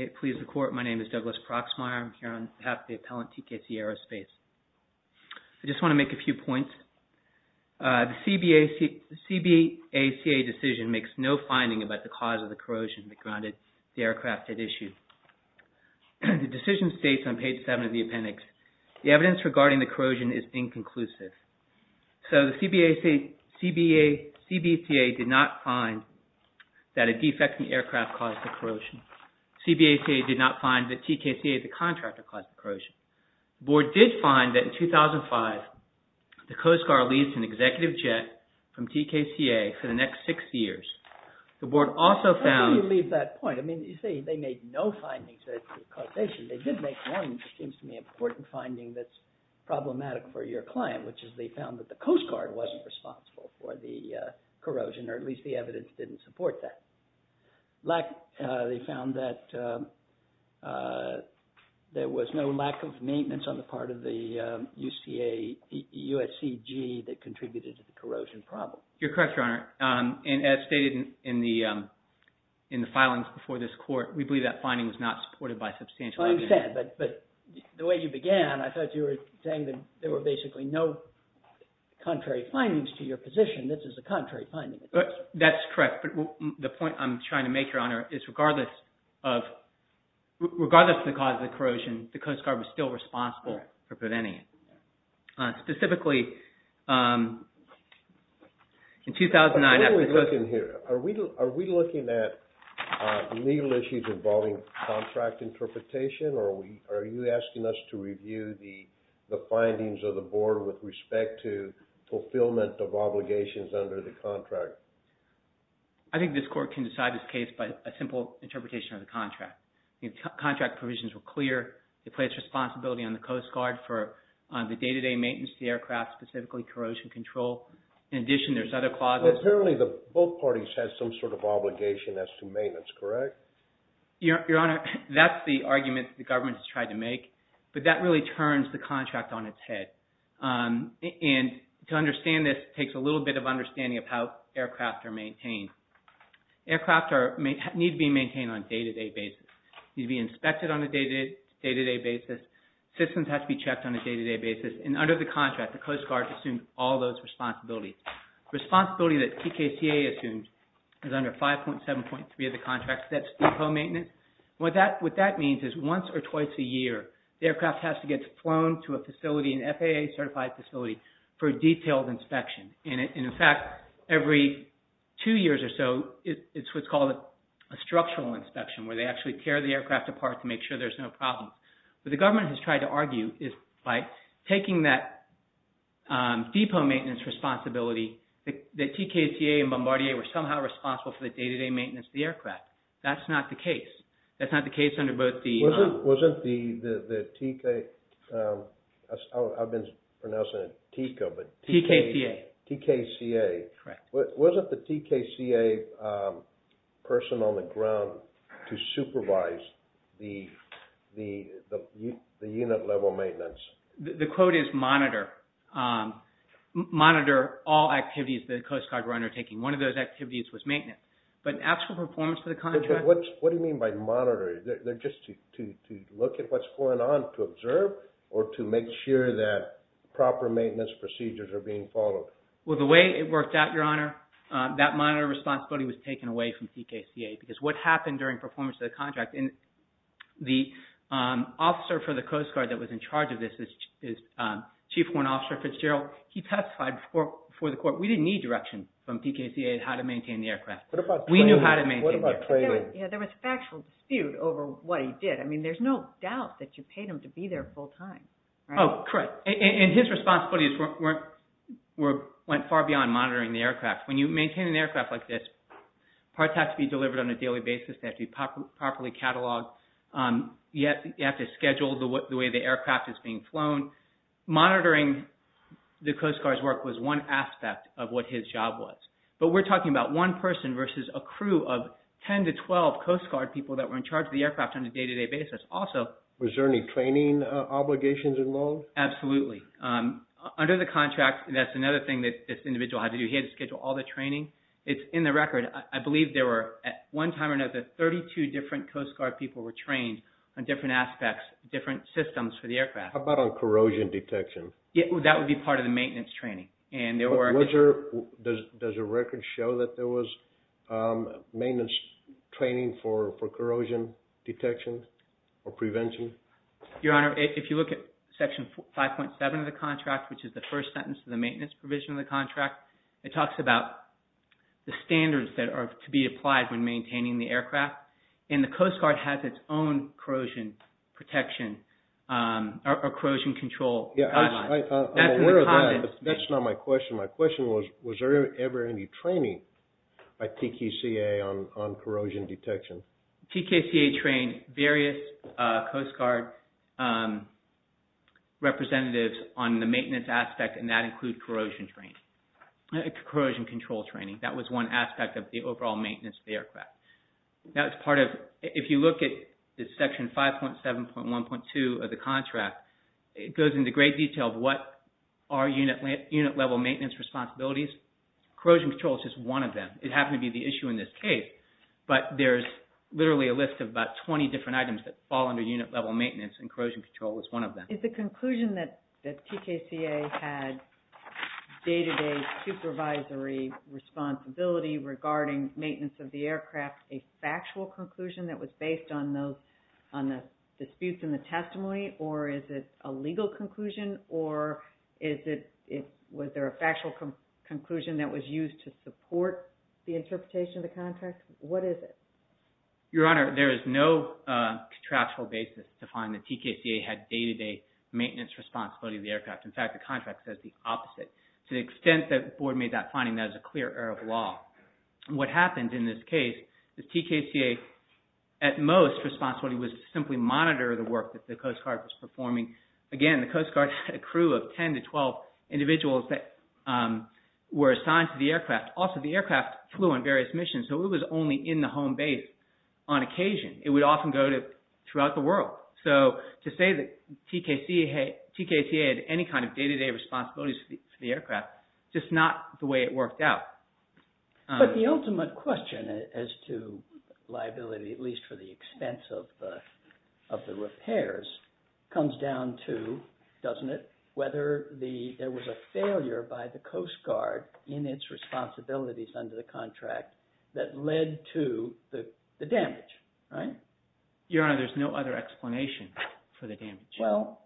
I just want to make a few points. The CBACA decision makes no finding about the cause of the corrosion that grounded the aircraft at issue. The decision states on page 7 of the appendix, the evidence regarding the corrosion is inconclusive. So the CBACA did not find that a defecting aircraft caused the corrosion. CBACA did not find that TKCA, the contractor, caused the corrosion. The board did find that in 2005, the Coast Guard leased an executive jet from TKCA for the next six years. The board also found... How do you leave that point? I mean, you say they made no findings. They did make one, which seems to me, important finding that's problematic for your client, which is they found that the Coast Guard wasn't responsible for the corrosion, or at least the evidence didn't support that. They found that there was no lack of maintenance on the part of the USCG that contributed to the corrosion problem. You're correct, Your Honor. And as stated in the filings before this court, we believe that finding was not supported by substantial evidence. I understand. But the way you began, I thought you were saying that there were basically no contrary findings to your position. This is a contrary finding. That's correct. But the point I'm trying to make, Your Honor, is regardless of the cause of the corrosion, the Coast Guard was still responsible for preventing it. Specifically, in 2009... Are we looking here? Are you asking us to review the findings of the board with respect to fulfillment of obligations under the contract? I think this court can decide this case by a simple interpretation of the contract. Contract provisions were clear. They placed responsibility on the Coast Guard for the day-to-day maintenance of the aircraft, specifically corrosion control. In addition, there's other clauses... Apparently, both parties had some sort of obligation as to maintenance, correct? Your Honor, that's the argument the government has tried to make. But that really turns the contract on its head. And to understand this, it takes a little bit of understanding of how aircraft are maintained. Aircraft need to be maintained on a day-to-day basis. They need to be inspected on a day-to-day basis. Systems have to be checked on a day-to-day basis. And under the contract, the Coast Guard assumed all those responsibilities. Responsibility that TKCA assumed is under 5.7.3 of the contract. That's depot maintenance. What that means is once or twice a year, the aircraft has to get flown to a facility, an FAA-certified facility, for a detailed inspection. And in fact, every two years or so, it's what's called a structural inspection, where they actually tear the aircraft apart to make sure there's no problem. What the government has tried to argue is by taking that depot maintenance responsibility, that TKCA and Bombardier were somehow responsible for the day-to-day maintenance of the aircraft. That's not the case. That's not the case under both the... Wasn't the TK... I've been pronouncing it TECO, but... TKCA. TKCA. Correct. Wasn't the TKCA person on the ground to supervise the unit-level maintenance? The quote is monitor. Monitor all activities that the Coast Guard were undertaking. One of those activities was maintenance. But in actual performance of the contract... What do you mean by monitor? They're just to look at what's going on, to observe, or to make sure that proper maintenance procedures are being followed. Well, the way it worked out, Your Honor, that monitor responsibility was taken away from TKCA, because what happened during performance of the contract... And the officer for the Coast Guard that was in charge of this is Chief Horn Officer Fitzgerald. He testified before the court. We didn't need direction from TKCA on how to maintain the aircraft. We knew how to maintain the aircraft. There was factual dispute over what he did. I mean, there's no doubt that you paid him to be there full-time. Oh, correct. And his responsibilities went far beyond monitoring the aircraft. When you maintain an aircraft like this, parts have to be delivered on a daily basis. They have to be properly cataloged. You have to schedule the way the aircraft is being flown. Monitoring the Coast Guard's work was one aspect of what his job was. But we're talking about one person versus a crew of 10 to 12 Coast Guard people that were in charge of the aircraft on a day-to-day basis. Also... Was there any training obligations involved? Absolutely. Under the contract, that's another thing that this individual had to do. He had to schedule all the training. It's in the record. I believe there were, at one time or another, 32 different Coast Guard people were trained on different aspects, different systems for the aircraft. How about on corrosion detection? That would be part of the maintenance training. And there were... Does the record show that there was maintenance training for corrosion detection or prevention? Your Honor, if you look at Section 5.7 of the contract, which is the first sentence of the maintenance provision of the contract, it talks about the standards that are to be applied when maintaining the aircraft. And the Coast Guard has its own corrosion protection or corrosion control guidelines. I'm aware of that, but that's not my question. My question was, was there ever any training by TKCA on corrosion detection? TKCA trained various Coast Guard representatives on the maintenance aspect, and that included corrosion training, corrosion control training. That was one aspect of the overall maintenance of the aircraft. That was part of... If you look at Section 5.7.1.2 of the contract, it goes into great detail of what are unit-level maintenance responsibilities. Corrosion control is just one of them. It happened to be the issue in this case. But there's literally a list of about 20 different items that fall under unit-level maintenance, and corrosion control is one of them. Is the conclusion that TKCA had day-to-day supervisory responsibility regarding maintenance of the aircraft a factual conclusion that was based on the disputes in the testimony? Or is it a legal conclusion? Or was there a factual conclusion that was used to support the interpretation of the contract? What is it? Your Honor, there is no contractual basis to find that TKCA had day-to-day maintenance responsibility of the aircraft. In fact, the contract says the opposite. To the extent that the Board made that finding, that is a clear error of law. What happened in this case is TKCA, at most, responsibility was to simply monitor the work that the Coast Guard was performing. Again, the Coast Guard had a crew of 10 to 12 individuals that were assigned to the aircraft. Also, the aircraft flew on various missions, so it was only in the home base on occasion. It would often go throughout the world. So to say that TKCA had any kind of day-to-day responsibility for the aircraft, just not the way it worked out. But the ultimate question as to liability, at least for the expense of the repairs, comes down to, doesn't it, whether there was a failure by the Coast Guard in its responsibilities under the contract that led to the damage, right? Your Honor, there's no other explanation for the damage. Well,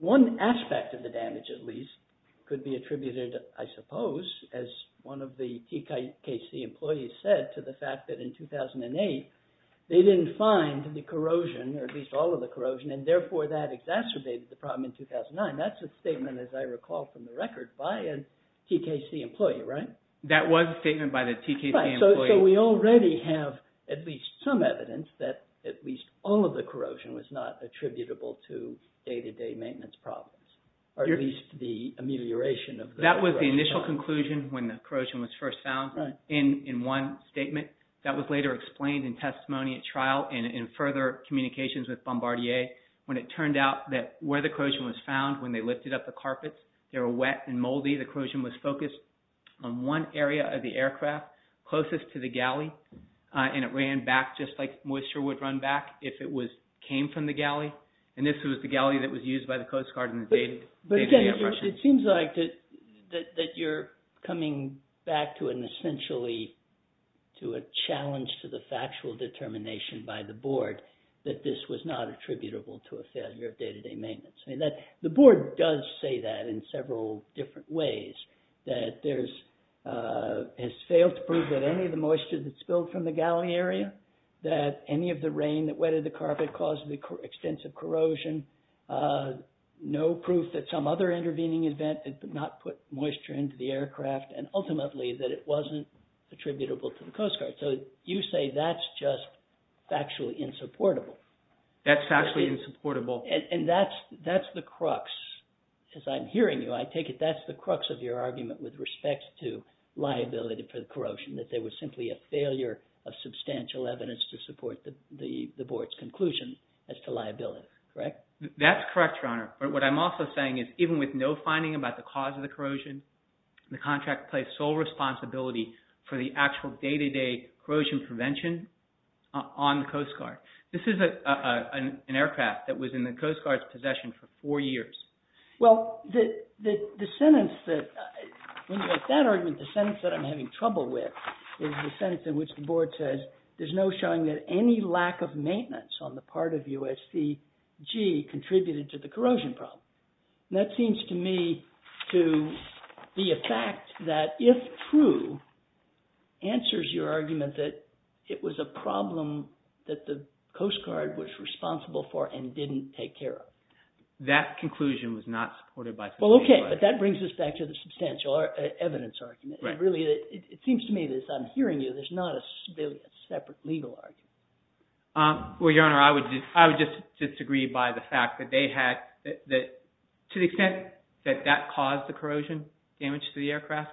one aspect of the damage, at least, could be attributed, I suppose, as one of the TKCA employees said, to the fact that in 2008, they didn't find the corrosion, or at least all of the corrosion, and therefore that exacerbated the problem in 2009. That's a statement, as I recall from the record, by a TKCA employee, right? That was a statement by the TKCA employee. Right, so we already have at least some evidence that at least all of the corrosion was not attributable to day-to-day maintenance problems, or at least the amelioration of the corrosion. That was the initial conclusion when the corrosion was first found in one statement. That was later explained in testimony at trial and in further communications with Bombardier when it turned out that where the corrosion was found, when they lifted up the carpets, they were wet and moldy. The corrosion was focused on one area of the aircraft, closest to the galley, and it ran back just like moisture would run back if it came from the galley. And this was the galley that was used by the Coast Guard in the day-to-day operations. But again, it seems like that you're coming back to an essentially, to a challenge to the factual determination by the board that this was not attributable to a failure of day-to-day maintenance. I mean, the board does say that in several different ways, that there's, has failed to prove that any of the moisture that spilled from the galley area, that any of the rain that wetted the carpet caused extensive corrosion, no proof that some other intervening event did not put moisture into the aircraft, and ultimately that it wasn't attributable to the Coast Guard. So you say that's just factually insupportable. That's factually insupportable. And that's the crux, as I'm hearing you, I take it that's the crux of your argument with respect to liability for the corrosion, that there was simply a failure of substantial evidence to support the board's conclusion as to liability, correct? That's correct, Your Honor. But what I'm also saying is even with no finding about the cause of the corrosion, the contract placed sole responsibility for the actual day-to-day corrosion prevention on the Coast Guard. This is an aircraft that was in the Coast Guard's possession for four years. Well, the sentence that, when you make that argument, the sentence that I'm having trouble with is the sentence in which the board says there's no showing that any lack of maintenance on the part of USCG contributed to the corrosion problem. And that seems to me to be a fact that, if true, answers your argument that it was a problem that the Coast Guard was responsible for and didn't take care of. That conclusion was not supported by the board. Well, okay. But that brings us back to the substantial evidence argument. It seems to me that, as I'm hearing you, there's not a separate legal argument. Well, Your Honor, I would just disagree by the fact that to the extent that that caused the corrosion damage to the aircraft,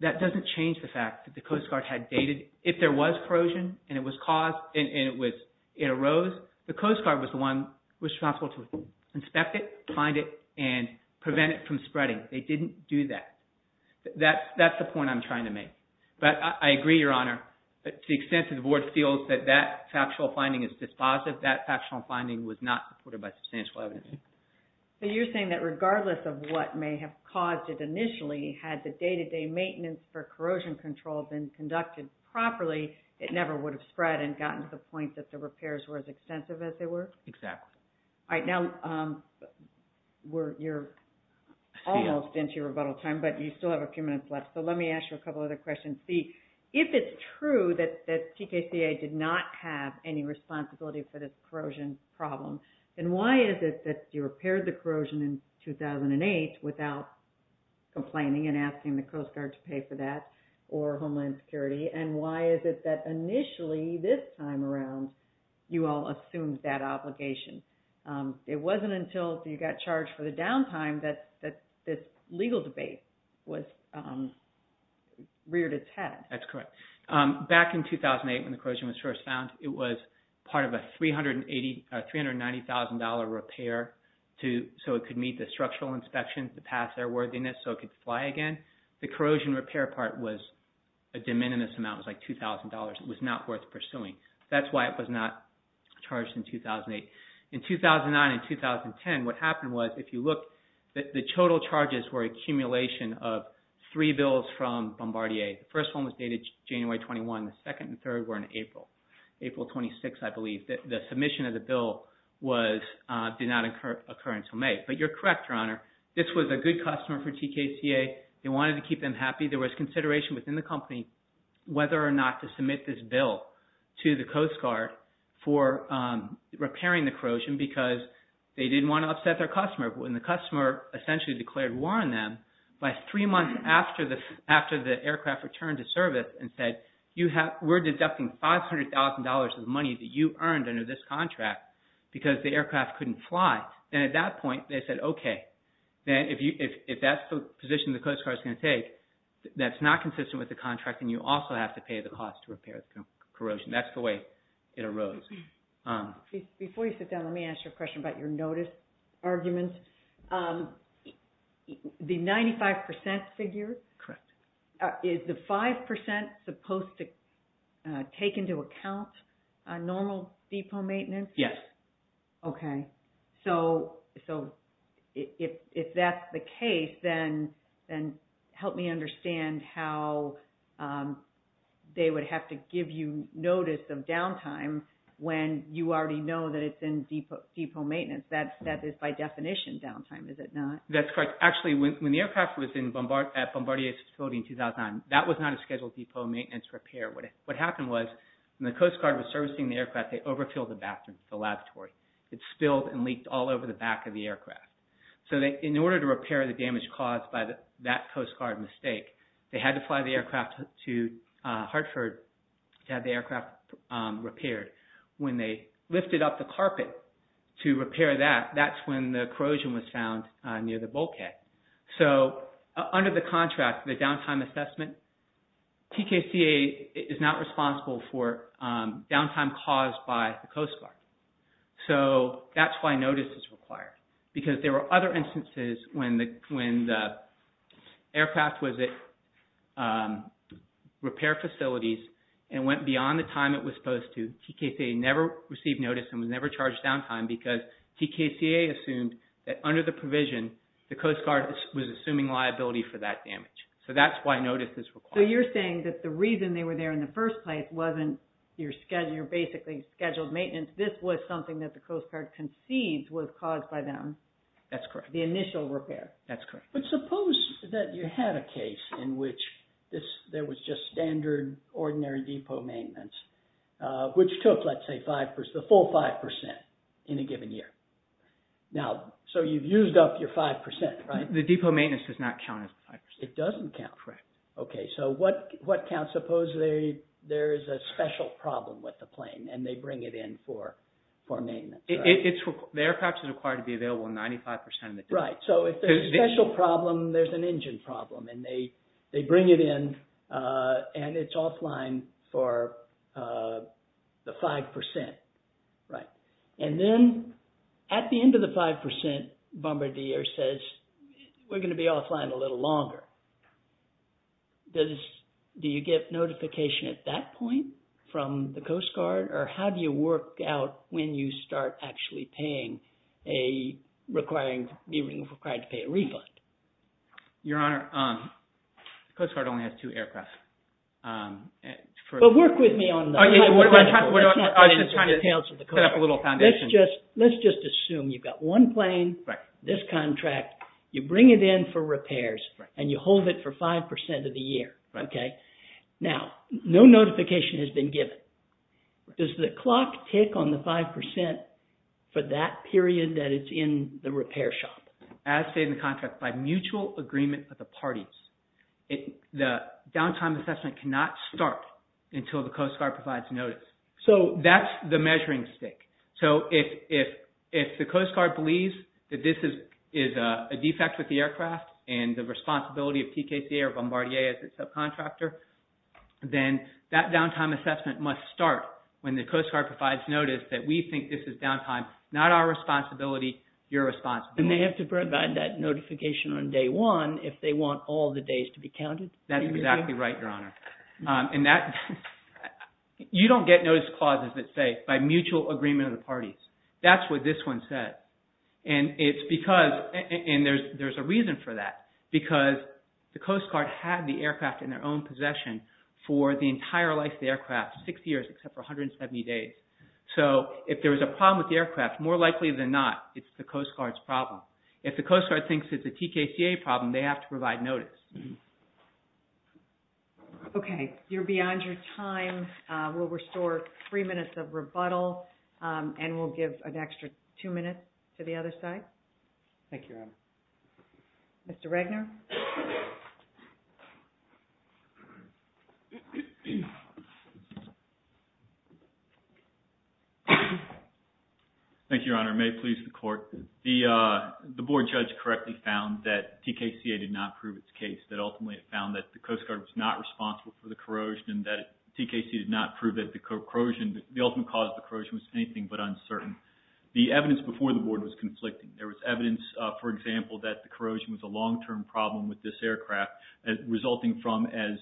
that doesn't change the fact that the Coast Guard had dated. If there was corrosion and it arose, the Coast Guard was the one responsible to inspect it, find it, and prevent it from spreading. They didn't do that. That's the point I'm trying to make. But I agree, Your Honor, to the extent that the board feels that that factual finding is dispositive, that factual finding was not supported by substantial evidence. So you're saying that regardless of what may have caused it initially, had the day-to-day maintenance for corrosion control been conducted properly, it never would have spread and gotten to the point that the repairs were as extensive as they were? Exactly. All right. Now, you're almost into your rebuttal time, but you still have a few minutes left. So let me ask you a couple other questions. C, if it's true that TKCA did not have any responsibility for this corrosion problem, then why is it that you repaired the corrosion in 2008 without complaining and asking the Coast Guard to pay for that or Homeland Security? And why is it that initially, this time around, you all assumed that obligation? It wasn't until you got charged for the downtime that this legal debate reared its head. That's correct. Back in 2008, when the corrosion was first found, it was part of a $390,000 repair so it could meet the structural inspections, the pass airworthiness, so it could fly again. The corrosion repair part was a de minimis amount. It was like $2,000. It was not worth pursuing. That's why it was not charged in 2008. In 2009 and 2010, what happened was, if you look, the total charges were an accumulation of three bills from Bombardier. The first one was dated January 21. The second and third were in April, April 26, I believe. The submission of the bill did not occur until May. But you're correct, Your Honor. This was a good customer for TKCA. They wanted to keep them happy. There was consideration within the company whether or not to submit this bill to the Coast Guard for repairing the corrosion because they didn't want to upset their customer. And the customer essentially declared war on them by three months after the aircraft returned to service and said, we're deducting $500,000 of money that you earned under this contract because the aircraft couldn't fly. And at that point, they said, okay, if that's the position the Coast Guard's going to take, that's not consistent with the contract and you also have to pay the cost to repair the corrosion. That's the way it arose. Before you sit down, let me ask you a question about your notice arguments. The 95% figure? Correct. Is the 5% supposed to take into account normal depot maintenance? Yes. Okay. So if that's the case, then help me understand how they would have to give you notice of downtime when you already know that it's in depot maintenance. That is by definition downtime, is it not? That's correct. When the aircraft was at Bombardier's facility in 2009, that was not a scheduled depot maintenance repair. What happened was, when the Coast Guard was servicing the aircraft, they overfilled the bathroom, the lavatory. It spilled and leaked all over the back of the aircraft. In order to repair the damage caused by that Coast Guard mistake, they had to fly the aircraft to Hartford to have the aircraft repaired. When they lifted up the carpet to repair that, that's when the corrosion was found near the bulkhead. Under the contract, the downtime assessment, TKCA is not responsible for downtime caused by the Coast Guard. That's why notice is required. Because there were other instances when the aircraft was at repair facilities and went beyond the time it was supposed to, TKCA never received notice and was never charged downtime because TKCA assumed that under the provision, the Coast Guard was assuming liability for that damage. So that's why notice is required. So you're saying that the reason they were there in the first place wasn't your basically scheduled maintenance. This was something that the Coast Guard concedes was caused by them. That's correct. The initial repair. That's correct. But suppose that you had a case in which there was just standard, ordinary depot maintenance, which took, let's say, the full 5% in a given year. So you've used up your 5%, right? The depot maintenance does not count as 5%. It doesn't count? Correct. Okay, so what counts? Suppose there's a special problem with the plane and they bring it in for maintenance. The aircraft is required to be available 95% of the time. Right, so if there's a special problem, there's an engine problem. And they bring it in and it's offline for the 5%, right? And then at the end of the 5%, Bombardier says, we're going to be offline a little longer. Do you get notification at that point from the Coast Guard? Or how do you work out when you start actually paying a requiring, being required to pay a refund? Your Honor, the Coast Guard only has two aircraft. But work with me on that. I was just trying to set up a little foundation. Let's just assume you've got one plane, this contract, you bring it in for repairs, and you hold it for 5% of the year, okay? Now, no notification has been given. Does the clock tick on the 5% for that period that it's in the repair shop? As stated in the contract, by mutual agreement of the parties, the downtime assessment cannot start until the Coast Guard provides notice. So that's the measuring stick. So if the Coast Guard believes that this is a defect with the aircraft and the responsibility of TKCA or Bombardier as its subcontractor, then that downtime assessment must start when the Coast Guard provides notice that we think this is downtime, not our responsibility, your responsibility. And they have to provide that notification on day one if they want all the days to be counted? That's exactly right, Your Honor. You don't get notice clauses that say by mutual agreement of the parties. That's what this one says. And there's a reason for that. Because the Coast Guard had the aircraft in their own possession for the entire life of the aircraft, six years except for 170 days. So if there was a problem with the aircraft, more likely than not, it's the Coast Guard's problem. If the Coast Guard thinks it's a TKCA problem, they have to provide notice. Okay, you're beyond your time. We'll restore three minutes of rebuttal and we'll give an extra two minutes to the other side. Thank you, Your Honor. Mr. Regner? Thank you, Your Honor. May it please the Court. The Board judge correctly found that TKCA did not prove its case. That ultimately it found that the Coast Guard was not responsible for the corrosion and that TKCA did not prove that the corrosion, the ultimate cause of the corrosion, was anything but uncertain. The evidence before the Board was conflicting. There was evidence, for example, that the corrosion was a long-term problem with this aircraft, resulting from, as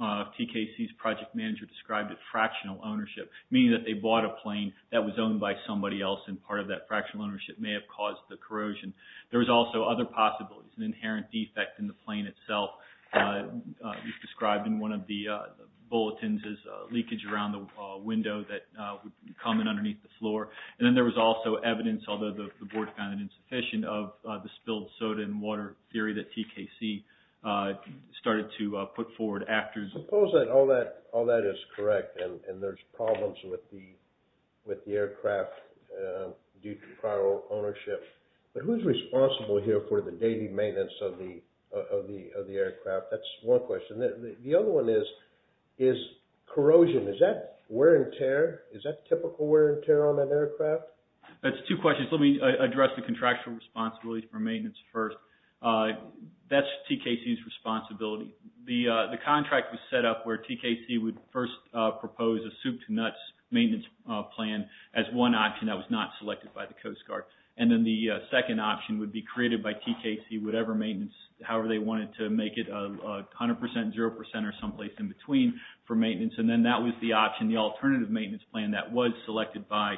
TKCA's project manager described it, fractional ownership. Meaning that they bought a plane that was owned by somebody else and part of that fractional ownership may have caused the corrosion. There was also other possibilities. An inherent defect in the plane itself was described in one of the bulletins as leakage around the window that would come in underneath the floor. And then there was also evidence, although the Board found it insufficient, of the spilled soda and water theory that TKCA started to put forward after... Suppose that all that is correct and there's problems with the aircraft due to prior ownership. But who's responsible here for the daily maintenance of the aircraft? That's one question. The other one is corrosion. Is that wear and tear? Is that typical wear and tear on an aircraft? That's two questions. Let me address the contractual responsibility for maintenance first. That's TKCA's responsibility. The contract was set up where TKCA would first propose a soup-to-nuts maintenance plan as one option that was not selected by the Coast Guard. And then the second option would be created by TKCA, whatever maintenance, however they wanted to make it, 100%, 0%, or someplace in between for maintenance. And then that was the option, the alternative maintenance plan that was selected by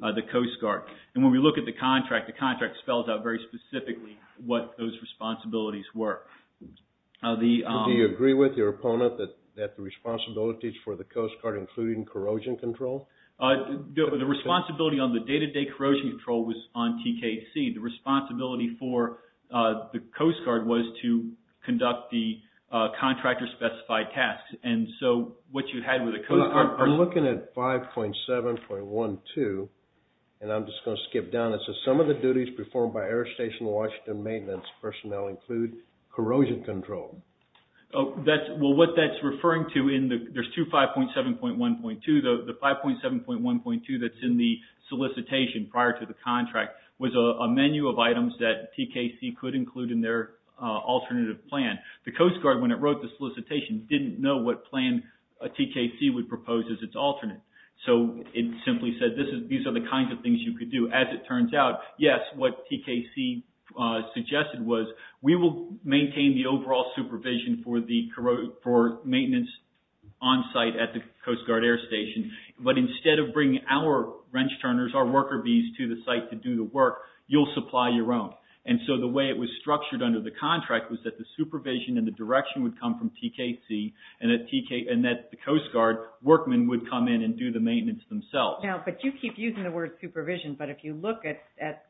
the Coast Guard. And when we look at the contract, the contract spells out very specifically what those responsibilities were. Do you agree with your opponent that the responsibilities for the Coast Guard, including corrosion control... The responsibility on the day-to-day corrosion control was on TKCA. The responsibility for the Coast Guard was to conduct the contractor-specified tasks. And so what you had with the Coast Guard... I'm looking at 5.7.12, and I'm just going to skip down. It says, some of the duties performed by Air Station Washington maintenance personnel include corrosion control. Well, what that's referring to in the... There's two 5.7.1.2. The 5.7.1.2 that's in the solicitation prior to the contract was a menu of items that TKC could include in their alternative plan. The Coast Guard, when it wrote the solicitation, didn't know what plan TKC would propose as its alternate. So it simply said, these are the kinds of things you could do. As it turns out, yes, what TKC suggested was, we will maintain the overall supervision for maintenance onsite at the Coast Guard Air Station, but instead of bringing our wrench turners, our worker bees, to the site to do the work, you'll supply your own. And so the way it was structured under the contract was that the supervision and the direction would come from TKC and that the Coast Guard workmen would come in and do the maintenance themselves. Now, but you keep using the word supervision, but if you look at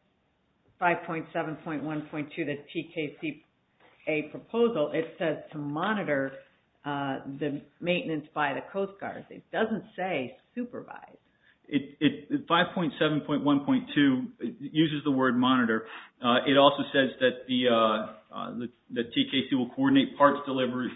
5.7.1.2, the TKC proposal, it says to monitor the maintenance by the Coast Guard. It doesn't say supervise. 5.7.1.2 uses the word monitor. It also says that the TKC will coordinate parts delivery,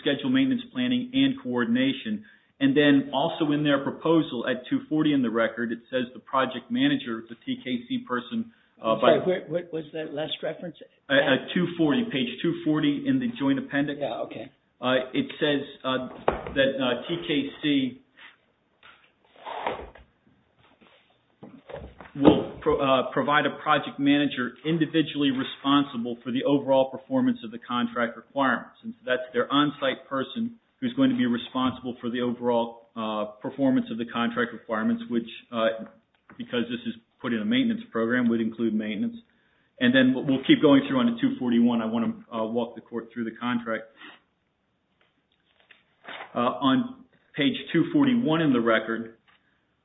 schedule maintenance planning, and coordination. And then also in their proposal, at 240 in the record, it says the project manager, the TKC person... I'm sorry, what was that last reference? At 240, page 240 in the joint appendix. Yeah, okay. It says that TKC will provide a project manager individually responsible for the overall performance of the contract requirements. That's their on-site person who's going to be responsible for the overall performance of the contract requirements, which, because this is put in a maintenance program, would include maintenance. And then we'll keep going through on to 241. I want to walk the court through the contract. On page 241 in the record,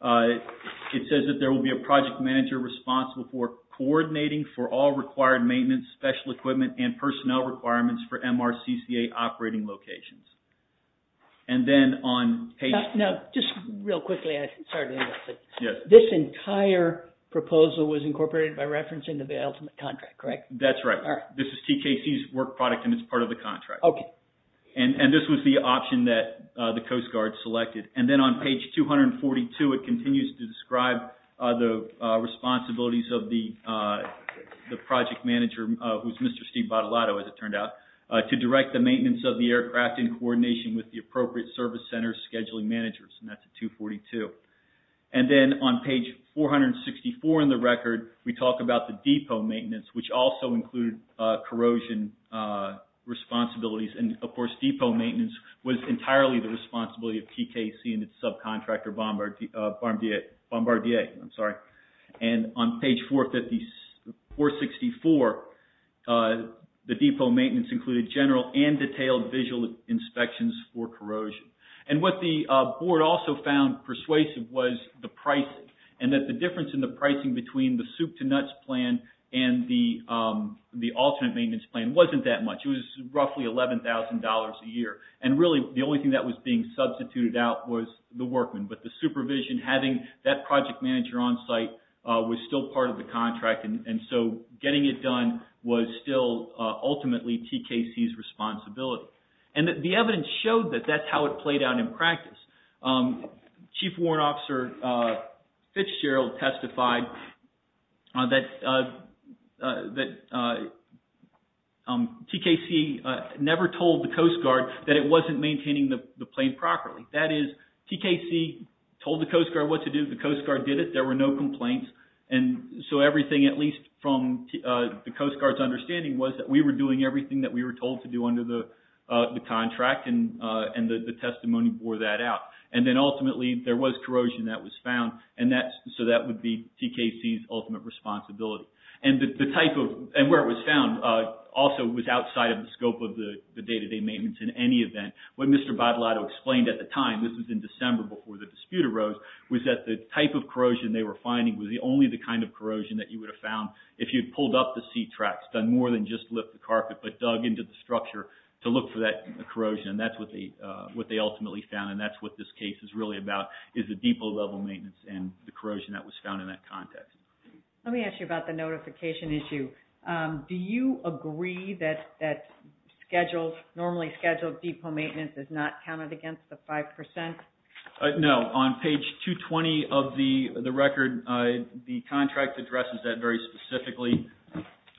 it says that there will be a project manager responsible for coordinating for all required maintenance, special equipment, and personnel requirements for MRCCA operating locations. And then on page... Now, just real quickly, I'm sorry to interrupt, but this entire proposal was incorporated by reference into the ultimate contract, correct? That's right. This is TKC's work product and it's part of the contract. Okay. And this was the option that the Coast Guard selected. And then on page 242, it continues to describe the responsibilities of the project manager, who's Mr. Steve Bottolato, as it turned out, to direct the maintenance of the aircraft in coordination with the appropriate service center's scheduling managers. And that's at 242. And then on page 464 in the record, we talk about the depot maintenance, which also included corrosion responsibilities and, of course, depot maintenance was entirely the responsibility of TKC and its subcontractor, Bombardier. I'm sorry. And on page 464, the depot maintenance included general and detailed visual inspections for corrosion. And what the board also found persuasive was the pricing and that the difference in the pricing between the soup-to-nuts plan and the alternate maintenance plan wasn't that much. It was roughly $11,000 a year. And really, the only thing that was being substituted out was the workman. But the supervision having that project manager on site was still part of the contract. And so, getting it done was still, ultimately, TKC's responsibility. And the evidence showed that that's how it played out in practice. Chief Warrant Officer Fitzgerald testified that TKC never told the Coast Guard that it wasn't maintaining the plane properly. That is, TKC told the Coast Guard what to do. The Coast Guard did it. There were no complaints. And so, everything, at least from the Coast Guard's understanding, was that we were doing everything that we were told to do under the contract and the testimony bore that out. And then, ultimately, there was corrosion that was found and that's, so that would be TKC's ultimate responsibility. And the type of, and where it was found also was outside of the scope of the day-to-day maintenance in any event. What Mr. Badlado explained at the time, this was in December before the dispute arose, was that the type of corrosion they were finding was only the kind of corrosion that you would have found if you had pulled up the seat tracks, done more than just lift the carpet, but dug into the structure to look for that corrosion. And that's what they, what they ultimately found and that's what this case is really about is the depot-level maintenance and the corrosion that was found in that context. Let me ask you about the notification issue. Do you agree that scheduled, normally scheduled depot maintenance is not counted against the 5%? No. On page 220 of the record, the contract addresses that very specifically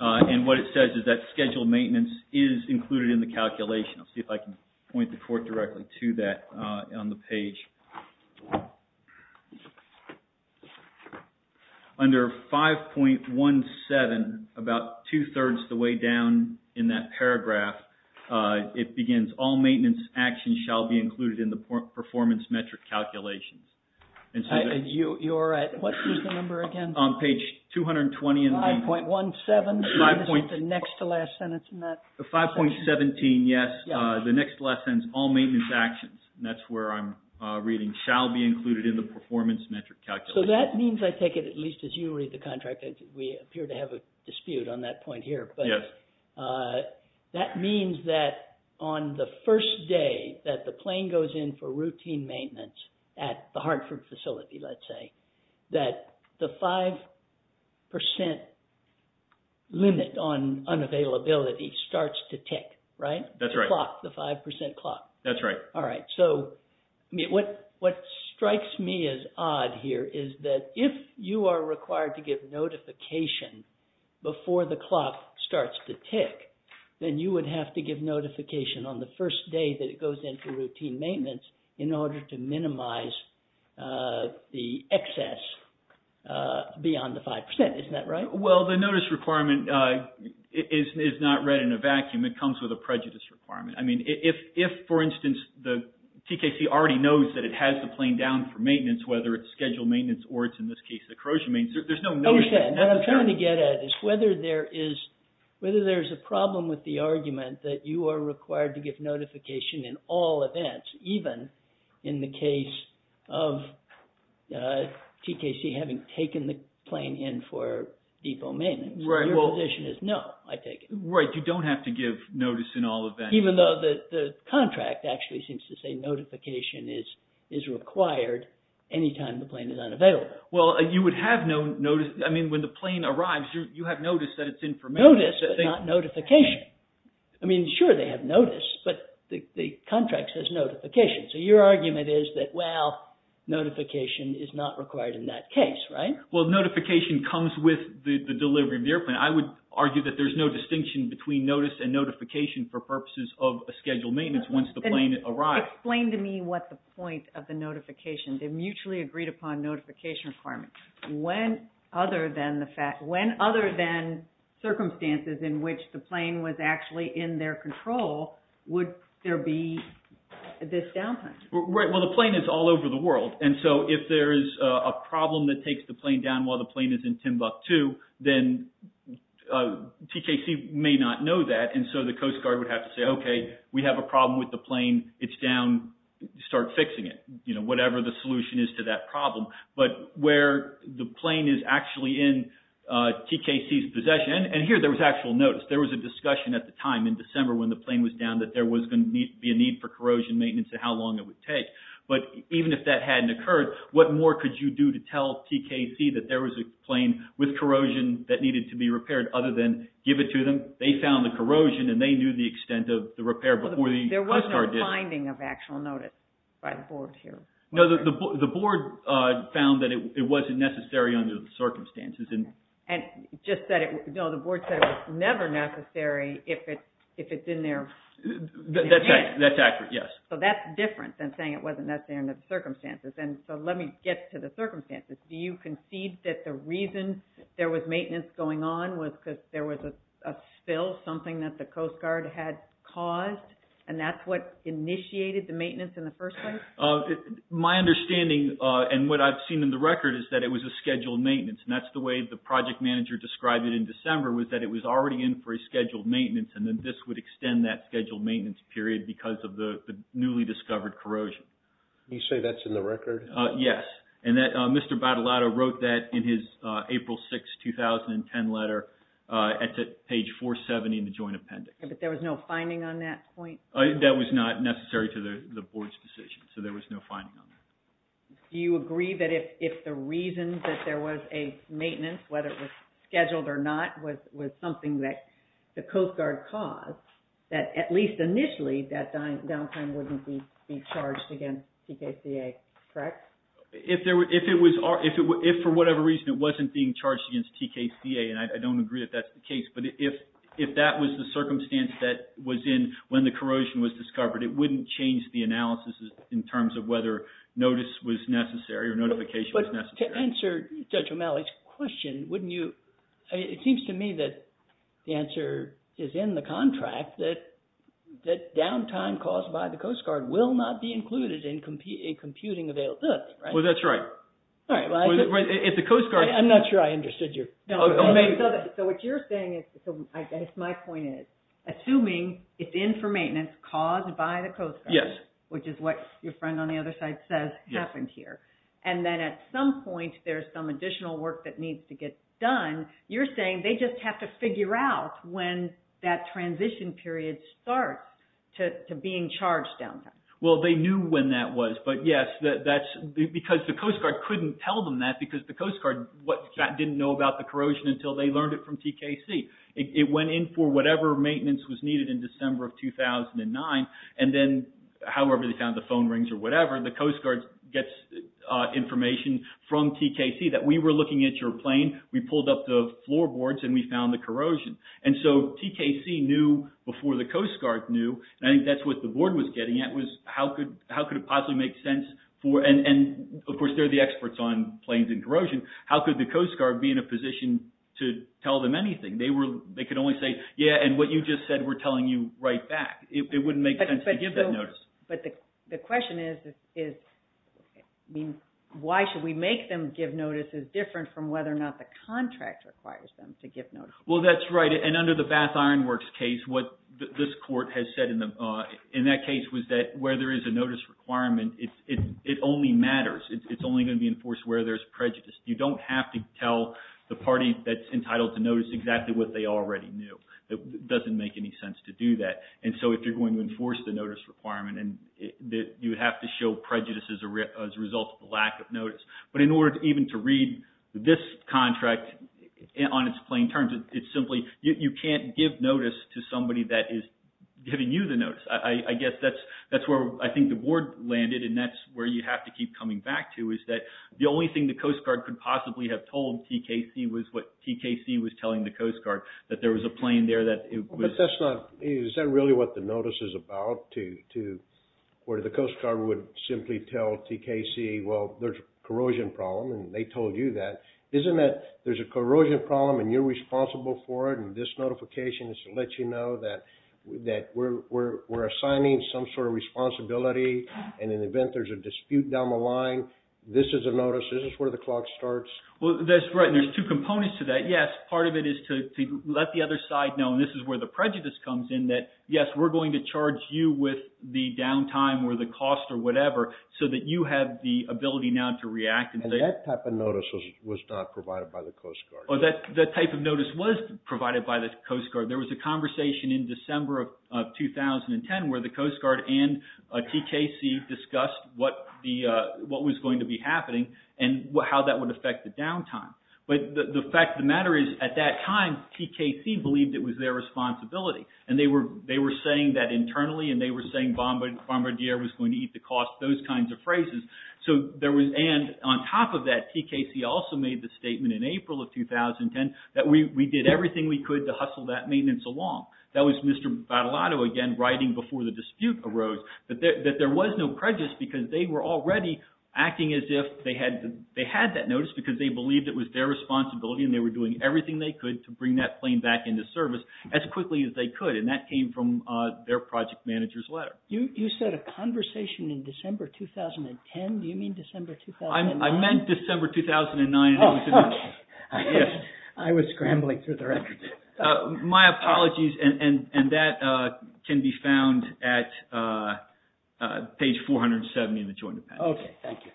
and what it says is that scheduled maintenance is included in the calculation. on the page. Under 5.17, about two-thirds the way down the page, it says that the depot-level maintenance is included in the calculation. In that paragraph, it begins, all maintenance actions shall be included in the performance metric calculations. You're at, what was the number again? On page 220 of the. 5.17. 5.17. The next to last sentence in that. 5.17, yes. The next to last sentence, all maintenance actions, and that's where I'm reading, shall be included in the performance metric calculations. So that means, I take it at least as you read the contract, we appear to have a dispute on that point here. Yes. That means that on the first day that the plane goes in for routine maintenance at the Hartford facility, let's say, that the 5% limit on unavailability starts to tick, right? That's right. The clock, the 5% clock. what strikes me as odd here is that if you are required to give notification before the clock starts to tick, that means that the 5% limit on unavailability starts to tick, then you would have to give notification on the first day that it goes in for routine maintenance in order to minimize the excess beyond the 5%, isn't that right? Well, the notice requirement is not read in a vacuum. It comes with a prejudice requirement. I mean, if, for instance, the TKC already knows that it has the plane down for maintenance, whether it's scheduled maintenance or it's, in this case, the corrosion maintenance, there's no notification. I understand. What I'm trying to get at is whether there is, whether there's a problem with the argument that you are required to give notification in all events, even in the case of TKC having taken the plane in for depot maintenance. Your position is, no, I take it. Right, you don't have to give notice in all events. Even though the contract actually seems to say notification is required anytime the plane is unavailable. Well, you would have no notice. I mean, when the plane arrives, you have notice that it's in for maintenance. Notice, but not notification. I mean, sure they have notice, but the contract says notification. So your argument is that, well, notification is not required in that case, right? Well, notification comes with the delivery of the airplane. I would argue that there's no distinction between notice and notification for purposes of a scheduled maintenance once the plane arrives. Explain to me what the point of the notification is. They mutually agreed upon notification requirements. When, other than the fact, when other than circumstances in which the plane was actually in their control, would there be this downtime? Right, well the plane is all over the world. And so, if there is a problem while the plane is in Timbuktu, then TKC may not know that and so the Coast Guard would have to say, okay, we have a problem with the plane, it's down, start fixing it. You know, whatever the solution is to that problem. But, where the plane is actually in TKC's possession, and here there was actual notice, there was a discussion at the time in December when the plane was down that there was going to be a need for corrosion maintenance and how long it would take. But, even if that hadn't occurred, what more could you do to tell TKC that there was a plane with corrosion that needed to be repaired other than give it to them? They found the corrosion and they knew the extent of the repair before the Coast Guard did. There was no finding of actual notice by the board here. No, the board found that it wasn't necessary under the circumstances. And, just said it, no, the board said it was never necessary if it's in their hands. That's accurate, yes. So, that's different than saying it wasn't necessary under the circumstances. And, so let me get to the circumstances. Do you concede that the reason there was maintenance going on was because there was a spill, something that the Coast Guard had caused? And, that's what initiated the maintenance in the first place? My understanding, and what I've seen in the record, is that it was a scheduled maintenance. And, that's the way the project manager described it in December was that it was already in for a scheduled maintenance and that this would extend that scheduled maintenance period because of the newly discovered corrosion. Can you say that's in the record? Yes. And, that's in his April 6, 2010 letter at page 470 in the joint appendix. But, there was no finding on that point? That was not necessary to the Board's decision. So, there was no finding on that. Do you agree that if the reason that there was a maintenance, whether it was scheduled or not, was something that the Coast Guard caused, that at least initially, that downtime wouldn't be charged against TKCA, correct? If there were, if it was, if for whatever reason it wasn't being charged against TKCA, and I don't agree that that's the case, but if that was the circumstance that was in when the corrosion was discovered, it wouldn't change the analysis in terms of whether notice was necessary or notification was necessary. But, to answer Judge O'Malley's question, wouldn't you, it seems to me that the answer is in the contract that downtime caused by the Coast Guard will not be included in computing availability, right? Well, that's right. All right, well, I'm not sure I understood you. So, what you're saying is, I guess my point is, assuming it's in for maintenance caused by the Coast Guard, which is what your friend on the other side says happened here, and then at some point there's some additional work that needs to get done, you're saying they just have to figure out when that transition period starts to being charged downtime. Well, they knew when that was, but yes, because the Coast Guard couldn't tell them that because the Coast Guard didn't know about the corrosion until they learned it from TKC. It went in for whatever maintenance was needed in December of 2009, and then, however they found the phone rings or whatever, the Coast Guard gets information from TKC that we were looking at your plane, we pulled up the floorboards and we found the corrosion. And so, TKC knew before the Coast Guard knew, and I think that's what the board was getting at was how could it possibly make sense for, and of course they're the experts on planes and corrosion, how could the Coast Guard be in a position to tell them anything? They could only say, yeah, and what you just said we're telling you right back. It wouldn't make sense to give that notice. But the question is, I mean, why should we make them give notices different from whether or not the contract requires them to give notices? Well, that's right. And under the Bath Iron Works case, what this court has said in that case was that where there is a notice requirement, it only matters. It's only going to be enforced where there's prejudice. You don't have to tell the party that's entitled to notice exactly what they already knew. It doesn't make any sense to do that. And so, if you're going to enforce the notice requirement, you have to show prejudice as a result of the lack of notice. But in order even to read this contract on its plane terms, it's simply, you can't give notice to somebody that is giving you the notice. I guess that's where I think the board landed and that's where you have to keep coming back to is that the only thing the Coast Guard could possibly have told TKC was what TKC was telling the Coast Guard, that there was a plane there that it was... But that's not... Is that really what the notice is about where the Coast Guard would simply tell TKC, well, there's a corrosion problem and they told you that? Isn't that responsible for it? And this notification is to let you know that we're assigning some sort of responsibility and in the event there's a dispute down the line, this is a notice, this is where the clock starts? Well, that's right and there's two components to that. Yes, part of it is to let the other side know and this is where the prejudice comes in, that yes, we're going to charge you with the downtime or the cost or whatever so that you have the ability now to react and say... And that type of notice was not provided by the Coast Guard? Well, that type of notice was provided by the Coast Guard. There was a conversation in December of 2010 where the Coast Guard and TKC discussed what was going to be happening and how that would affect the downtime. But the fact of the matter is at that time, TKC believed and they were saying that internally and they were saying Bombardier was going to eat the cost, those kinds of phrases so there was... And the Coast Guard was not providing that type of notice. And on top of that, TKC also made the statement in April of 2010 that we did everything we could to hustle that maintenance along. That was Mr. Batalado again writing before the dispute arose that there was no prejudice because they were already acting as if they had that notice because they believed it was their responsibility and they were doing everything they could to bring that plane back into service as quickly as they could and that came from their project manager's letter. You said a conversation in December 2010? Do you mean December 2009? I meant December 2009. Okay. Yes. I was scrambling through the records. My apologies and that can be found at page 470 in the Joint Appendix. Okay. Thank you.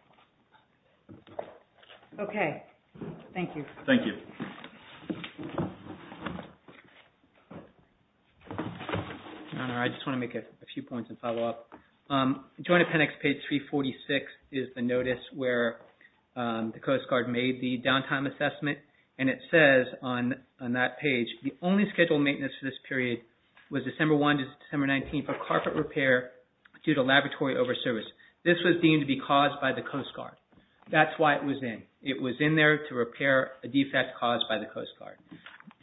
Okay. Thank you. Thank you. The Joint Appendix page 346 is the notice that was issued by the Coast Guard to the Coast Guard and the Coast Guard and the Coast Guard and the Coast Guard and the Coast Guard is the notice where the Coast Guard made the downtime assessment and it says on that page the only scheduled maintenance for this period was December 1 to December 19 for carpet repair due to laboratory over service. This was deemed to be caused by the Coast Guard. That's why it was in. It was in there to repair a defect caused by the Coast Guard.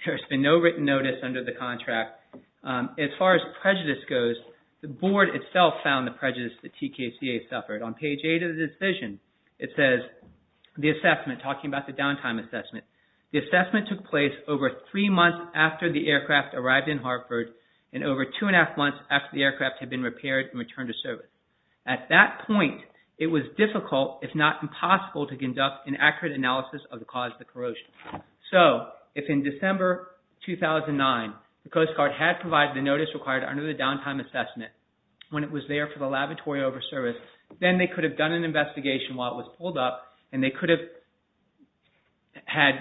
There has been no written notice under the contract. As far as prejudice goes, the board itself found the prejudice that TKCA suffered. On page 8 of the decision it says the assessment talking about the downtime assessment the assessment took place over three months after the aircraft arrived in Hartford and over two and a half months after the aircraft had been repaired and returned to service. At that point it was difficult if not impossible to conduct an accurate analysis of the cause of the corrosion. So, if in December 2009 the Coast Guard had provided the notice required under the downtime assessment when it was there for the laboratory over service then they could have done an investigation while it was pulled up and they could have had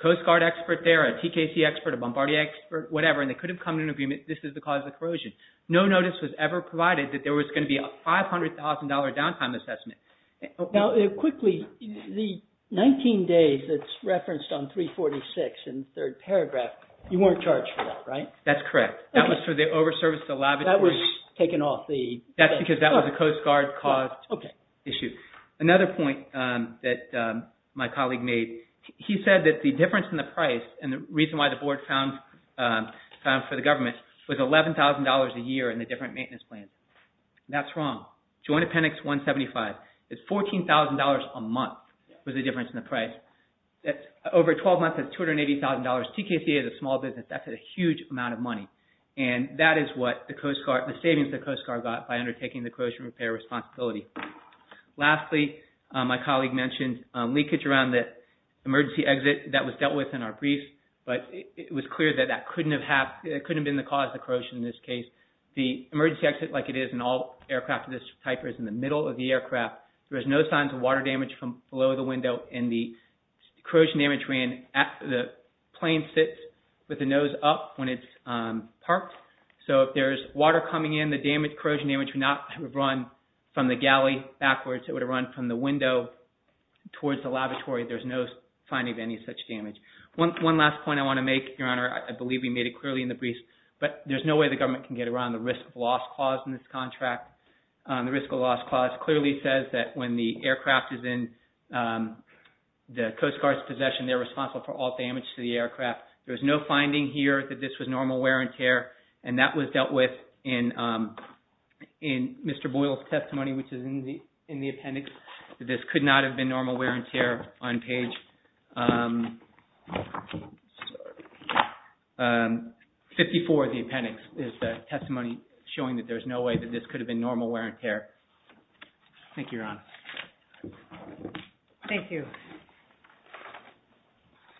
Coast Guard expert there a TKCA expert a Bombardier expert whatever and they could have come to an agreement this is the cause of the corrosion. No notice was ever provided that there was going to be a $500,000 downtime assessment. Now, quickly the 19 days that's referenced on 346 in the third paragraph you weren't charged for that, right? That's correct. That was for the over service to the laboratory. That was taken off the Coast Guard caused issue. Another point that my colleague made he said that the difference in the price and the reason why the board found for the government was $11,000 a year in the different maintenance plans. That's wrong. Joint Appendix 175 is $14,000 a month was the difference in the price. Over 12 months it's $280,000 TKCA is a small business that's a huge amount of money and that is what the Coast Guard the savings the Coast Guard got by undertaking the corrosion repair responsibility. Lastly, my colleague mentioned leakage around the emergency exit that was dealt with in our brief but it was clear that that couldn't have been the cause of the corrosion in this case. The emergency exit like it is in all aircraft of this type is in the middle of the aircraft. There's no signs of water damage from below the window and the corrosion damage ran after the plane sits with the nose up when it's parked. So if there's water coming in the corrosion damage would not have run from the galley backwards. It would have run from the window towards the laboratory. There's no finding of any such damage. One last point I want to make, Your Honor, I believe we made it clearly in the brief but there's no way the government can get around the risk of loss clause in this contract. The risk of loss clause clearly says that when the aircraft is in the Coast Guard's possession they're responsible for all damage to the aircraft. There's no finding here that this was normal wear and tear and that was dealt with in Mr. Boyle's testimony which is in the appendix that this could not have been normal wear and tear on page 54 of the appendix is the testimony have been normal wear and tear. Thank you, Your Honor. Thank you. Thank you. Thank you. Thank you. Thank you. Thank you. Thank you. Thank you! Thank you! Thank you! Thank you! Thank you! cido! cido! Don! Don! Don! Don!